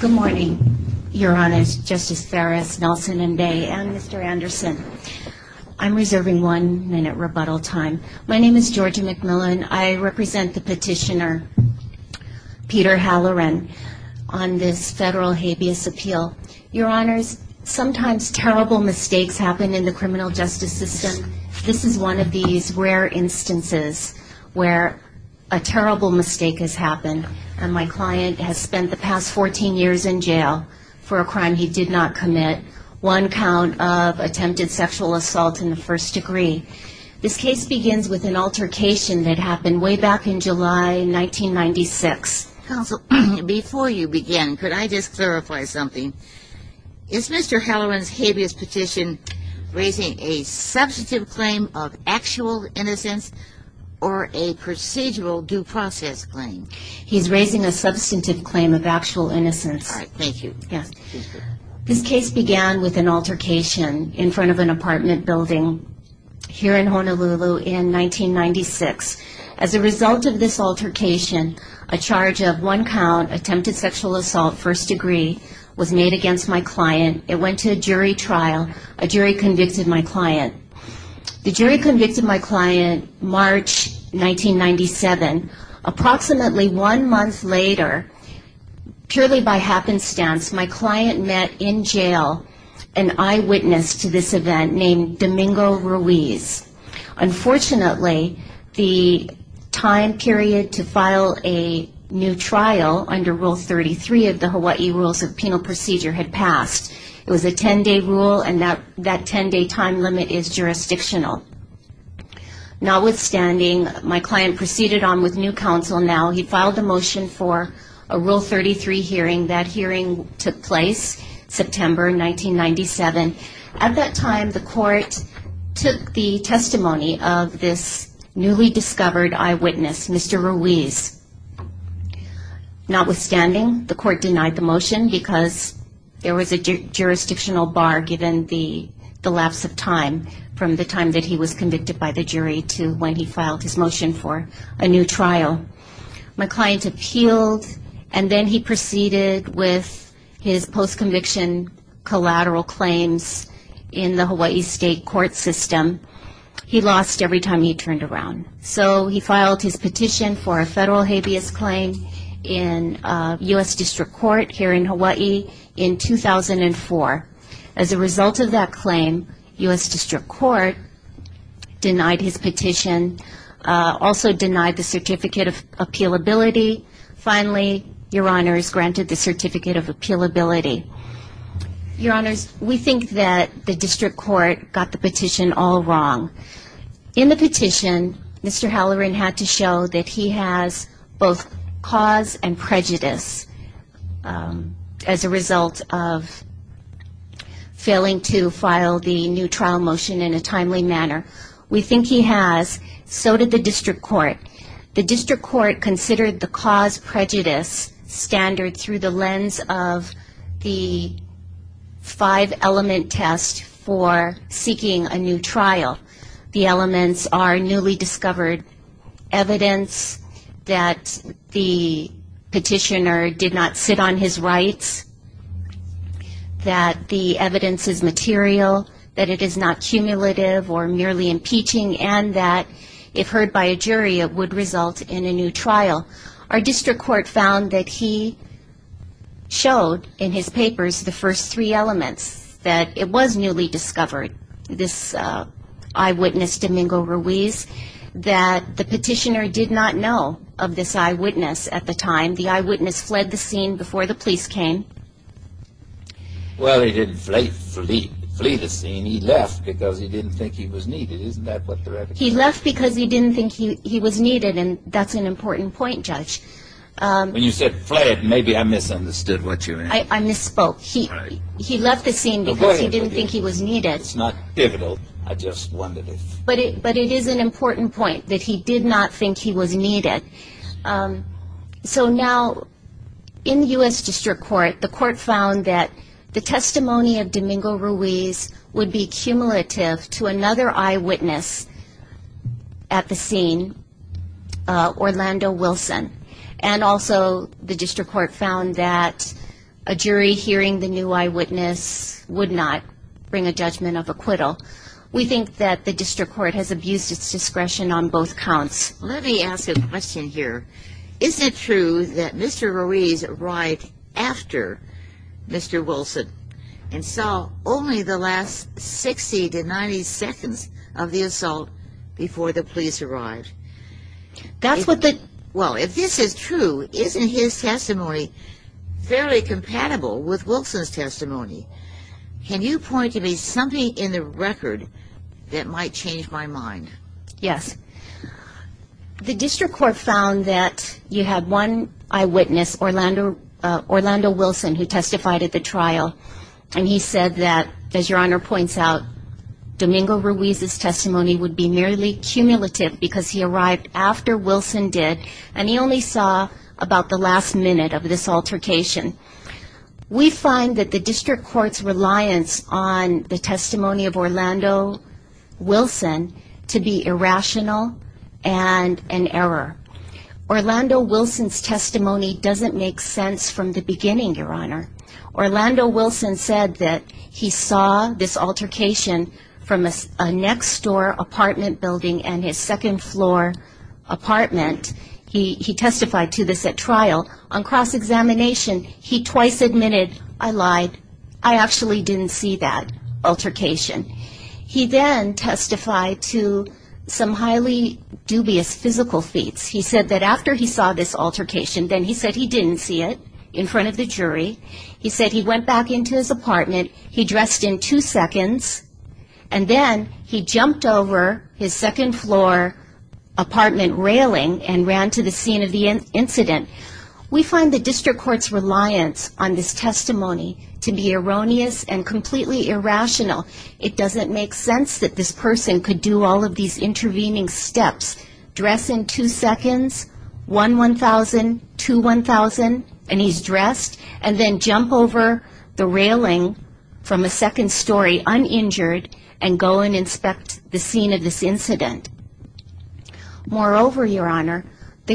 Good morning, Your Honors, Justice Farris, Nelson-Mbay, and Mr. Anderson. I'm reserving one-minute rebuttal time. My name is Georgia McMillan. I represent the petitioner, Peter Halloran, on this federal habeas appeal. Your Honors, sometimes terrible mistakes happen in the criminal justice system. This is one of these rare instances where a terrible mistake has happened, and my client has spent the past 14 years in jail for a crime he did not commit, one count of attempted sexual assault in the first degree. This case begins with an altercation that happened way back in July 1996. Counsel, before you begin, could I just clarify something? Is Mr. Halloran's habeas petition raising a substantive claim of actual innocence or a procedural due process claim? He's raising a substantive claim of actual innocence. All right. Thank you. This case began with an altercation in front of an apartment building here in Honolulu in 1996. As a result of this altercation, a charge of one count, attempted sexual assault, first degree, was made against my client. It went to a jury trial. A jury convicted my client. The jury convicted my client March 1997. Approximately one month later, purely by happenstance, my client met in jail an eyewitness to this event named Domingo Ruiz. Unfortunately, the time period to file a new trial under Rule 33 of the Hawaii Rules of Penal Procedure had passed. It was a 10-day rule, and that 10-day time limit is jurisdictional. Notwithstanding, my client proceeded on with new counsel. Now, he filed a motion for a Rule 33 hearing. That hearing took place September 1997. At that time, the court took the testimony of this newly discovered eyewitness, Mr. Ruiz. Notwithstanding, the court denied the motion because there was a jurisdictional bar given the lapse of time, from the time that he was convicted by the jury to when he filed his motion for a new trial. My client appealed, and then he proceeded with his post-conviction collateral claims in the Hawaii state court system. He lost every time he turned around. So he filed his petition for a federal habeas claim in U.S. District Court here in Hawaii in 2004. As a result of that claim, U.S. District Court denied his petition, also denied the Certificate of Appealability. Finally, Your Honors, granted the Certificate of Appealability. Your Honors, we think that the District Court got the petition all wrong. In the petition, Mr. Halloran had to show that he has both cause and prejudice as a result of failing to file the new trial motion in a timely manner. We think he has. So did the District Court. The District Court considered the cause-prejudice standard through the lens of the five-element test for seeking a new trial. The elements are newly discovered evidence that the petitioner did not sit on his rights, that the evidence is material, that it is not cumulative or merely impeaching, and that if heard by a jury, it would result in a new trial. Our District Court found that he showed in his papers the first three elements, that it was newly discovered, this eyewitness, Domingo Ruiz, that the petitioner did not know of this eyewitness at the time. The eyewitness fled the scene before the police came. Well, he didn't flee the scene. He left because he didn't think he was needed. Isn't that what the record says? He left because he didn't think he was needed, and that's an important point, Judge. When you said fled, maybe I misunderstood what you meant. I misspoke. He left the scene because he didn't think he was needed. It's not pivotal. I just wondered if... But it is an important point, that he did not think he was needed. So now, in the U.S. District Court, the court found that the testimony of Domingo Ruiz would be cumulative to another eyewitness at the scene, Orlando Wilson, and also the District Court found that a jury hearing the new eyewitness would not bring a judgment of acquittal. We think that the District Court has abused its discretion on both counts. Let me ask a question here. Is it true that Mr. Ruiz arrived after Mr. Wilson and saw only the last 60 to 90 seconds of the assault before the police arrived? That's what the... Well, if this is true, isn't his testimony fairly compatible with Wilson's testimony? Can you point to me something in the record that might change my mind? Yes. The District Court found that you had one eyewitness, Orlando Wilson, who testified at the trial, and he said that, as Your Honor points out, Domingo Ruiz's testimony would be merely cumulative because he arrived after Wilson did, and he only saw about the last minute of this altercation. We find that the District Court's reliance on the testimony of Orlando Wilson to be irrational and an error. Orlando Wilson's testimony doesn't make sense from the beginning, Your Honor. Orlando Wilson said that he saw this altercation from a next-door apartment building and his second-floor apartment. He testified to this at trial. On cross-examination, he twice admitted, I lied. I actually didn't see that altercation. He then testified to some highly dubious physical feats. He said that after he saw this altercation, then he said he didn't see it in front of the jury. He said he went back into his apartment. He dressed in two seconds, and then he jumped over his second-floor apartment railing and ran to the scene of the incident. We find the District Court's reliance on this testimony to be erroneous and completely irrational. It doesn't make sense that this person could do all of these intervening steps, dress in two seconds, 1-1000, 2-1000, and he's dressed, and then jump over the railing from a second-story uninjured and go and inspect the scene of this incident. Moreover, Your Honor,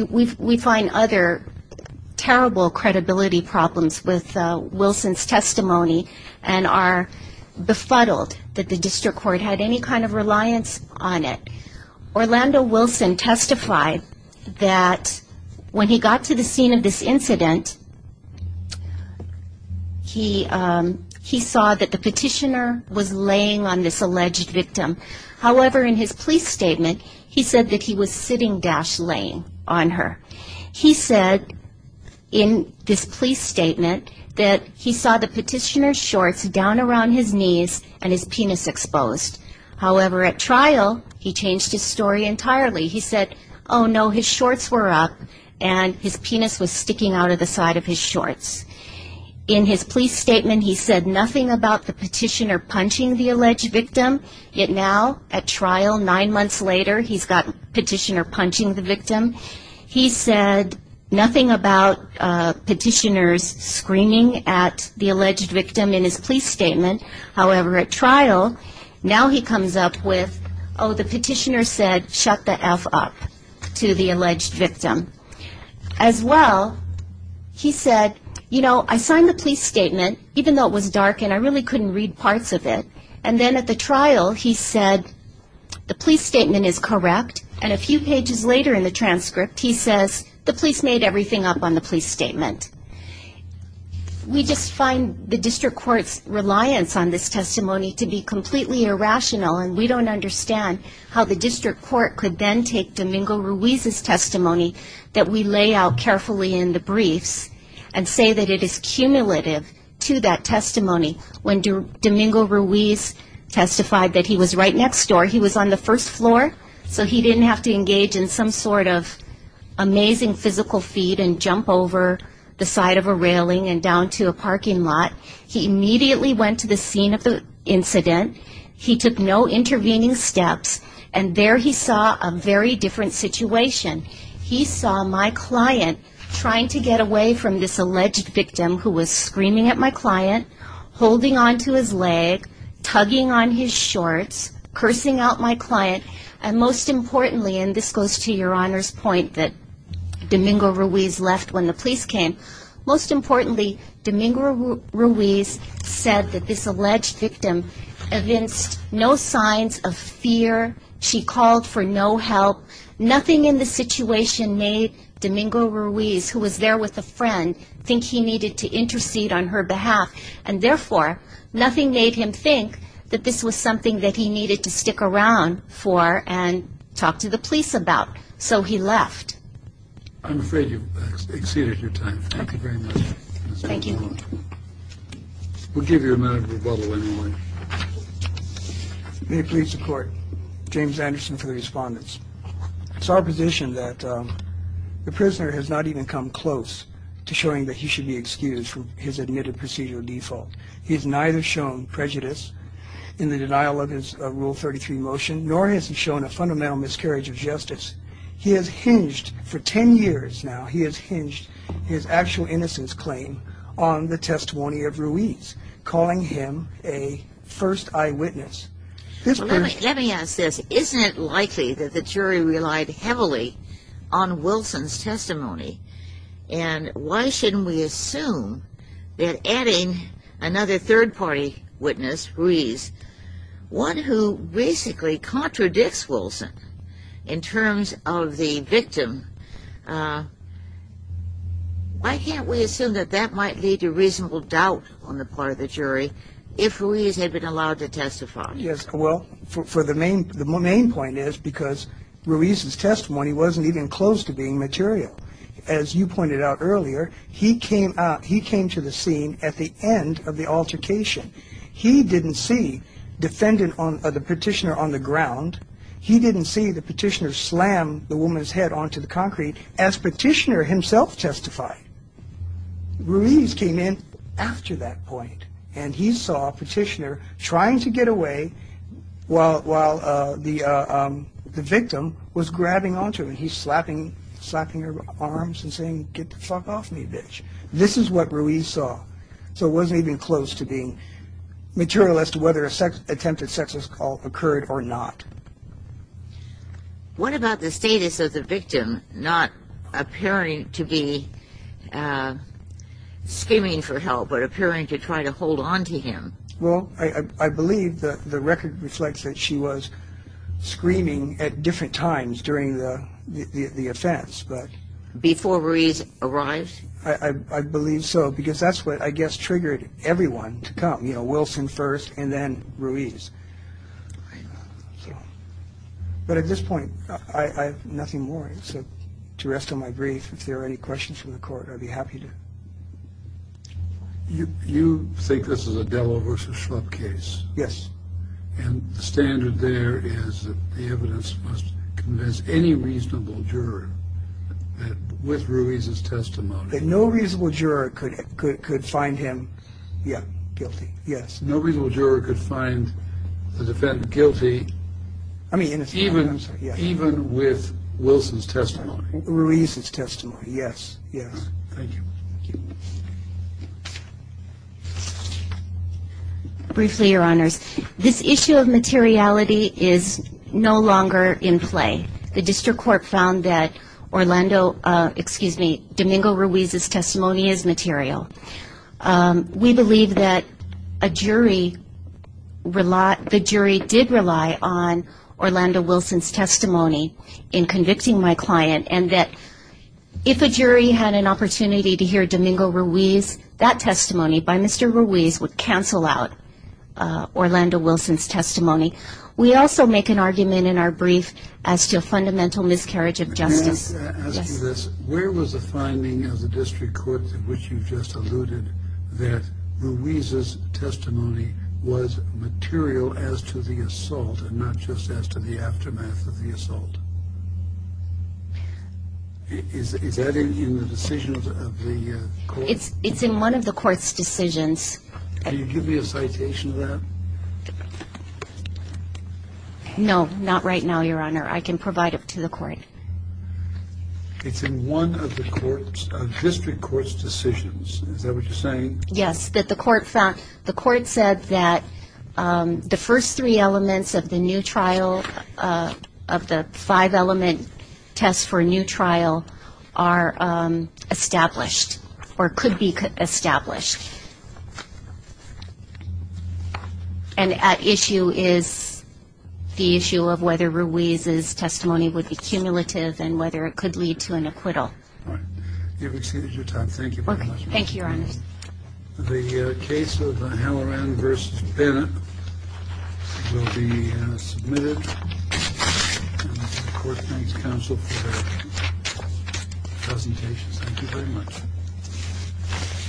we find other terrible credibility problems with Wilson's testimony and are befuddled that the District Court had any kind of reliance on it. Orlando Wilson testified that when he got to the scene of this incident, he saw that the petitioner was laying on this alleged victim. However, in his police statement, he said that he was sitting-laying on her. He said in this police statement that he saw the petitioner's shorts down around his knees and his penis exposed. However, at trial, he changed his story entirely. He said, oh, no, his shorts were up, and his penis was sticking out of the side of his shorts. In his police statement, he said nothing about the petitioner punching the alleged victim. Yet now, at trial, nine months later, he's got a petitioner punching the victim. He said nothing about petitioners screaming at the alleged victim in his police statement. However, at trial, now he comes up with, oh, the petitioner said, shut the F up to the alleged victim. As well, he said, you know, I signed the police statement, even though it was dark and I really couldn't read parts of it. And then at the trial, he said the police statement is correct. And a few pages later in the transcript, he says the police made everything up on the police statement. We just find the District Court's reliance on this testimony to be completely irrational, and we don't understand how the District Court could then take Domingo Ruiz's testimony that we lay out carefully in the briefs and say that it is cumulative to that testimony. When Domingo Ruiz testified that he was right next door, he was on the first floor, so he didn't have to engage in some sort of amazing physical feat and jump over the side of a railing and down to a parking lot. He immediately went to the scene of the incident. He took no intervening steps, and there he saw a very different situation. He saw my client trying to get away from this alleged victim who was screaming at my client, holding onto his leg, tugging on his shorts, cursing out my client, and most importantly, and this goes to your Honor's point that Domingo Ruiz left when the police came, most importantly, Domingo Ruiz said that this alleged victim evinced no signs of fear. She called for no help. Nothing in the situation made Domingo Ruiz, who was there with a friend, think he needed to intercede on her behalf, and therefore nothing made him think that this was something that he needed to stick around for and talk to the police about, so he left. I'm afraid you've exceeded your time. Thank you very much. Thank you. We'll give you a minute of rebuttal in a moment. May it please the Court. James Anderson for the respondents. It's our position that the prisoner has not even come close to showing that he should be excused from his admitted procedural default. He has neither shown prejudice in the denial of his Rule 33 motion, nor has he shown a fundamental miscarriage of justice. He has hinged for 10 years now, he has hinged his actual innocence claim on the testimony of Ruiz, calling him a first eyewitness. Let me ask this. Isn't it likely that the jury relied heavily on Wilson's testimony, and why shouldn't we assume that adding another third-party witness, Ruiz, one who basically contradicts Wilson in terms of the victim, why can't we assume that that might lead to reasonable doubt on the part of the jury if Ruiz had been allowed to testify? Yes, well, the main point is because Ruiz's testimony wasn't even close to being material. As you pointed out earlier, he came to the scene at the end of the altercation. He didn't see the petitioner on the ground. He didn't see the petitioner slam the woman's head onto the concrete as petitioner himself testified. Ruiz came in after that point, and he saw petitioner trying to get away while the victim was grabbing onto him. He's slapping her arms and saying, get the fuck off me, bitch. This is what Ruiz saw. So it wasn't even close to being material as to whether an attempted sexist call occurred or not. What about the status of the victim not appearing to be screaming for help but appearing to try to hold onto him? Well, I believe that the record reflects that she was screaming at different times during the offense. Before Ruiz arrived? I believe so, because that's what I guess triggered everyone to come, you know, Wilson first and then Ruiz. But at this point, I have nothing more to rest on my brief. If there are any questions from the court, I'd be happy to. You think this is a Delo versus Schlupp case? Yes. And the standard there is that the evidence must convince any reasonable juror that with Ruiz's testimony. That no reasonable juror could find him guilty. Yes. No reasonable juror could find the defendant guilty even with Wilson's testimony. Ruiz's testimony. Yes. Yes. Thank you. Briefly, Your Honors, this issue of materiality is no longer in play. The district court found that Orlando, excuse me, Domingo Ruiz's testimony is material. We believe that a jury, the jury did rely on Orlando Wilson's testimony in convicting my client and that if a jury had an opportunity to hear Domingo Ruiz, that testimony by Mr. Ruiz would cancel out Orlando Wilson's testimony. We also make an argument in our brief as to a fundamental miscarriage of justice. Can I ask you this? Yes. Where was the finding of the district court, which you just alluded, that Ruiz's testimony was material as to the assault and not just as to the aftermath of the assault? Is that in the decisions of the court? It's in one of the court's decisions. Can you give me a citation of that? No, not right now, Your Honor. I can provide it to the court. It's in one of the district court's decisions. Is that what you're saying? Yes, that the court found, the court said that the first three elements of the new trial, of the five-element test for a new trial are established or could be established. And at issue is the issue of whether Ruiz's testimony would be cumulative and whether it could lead to an acquittal. All right. You've exceeded your time. Thank you very much. Thank you, Your Honor. The case of Halloran v. Bennett will be submitted. And the court thanks counsel for their presentations. Thank you very much.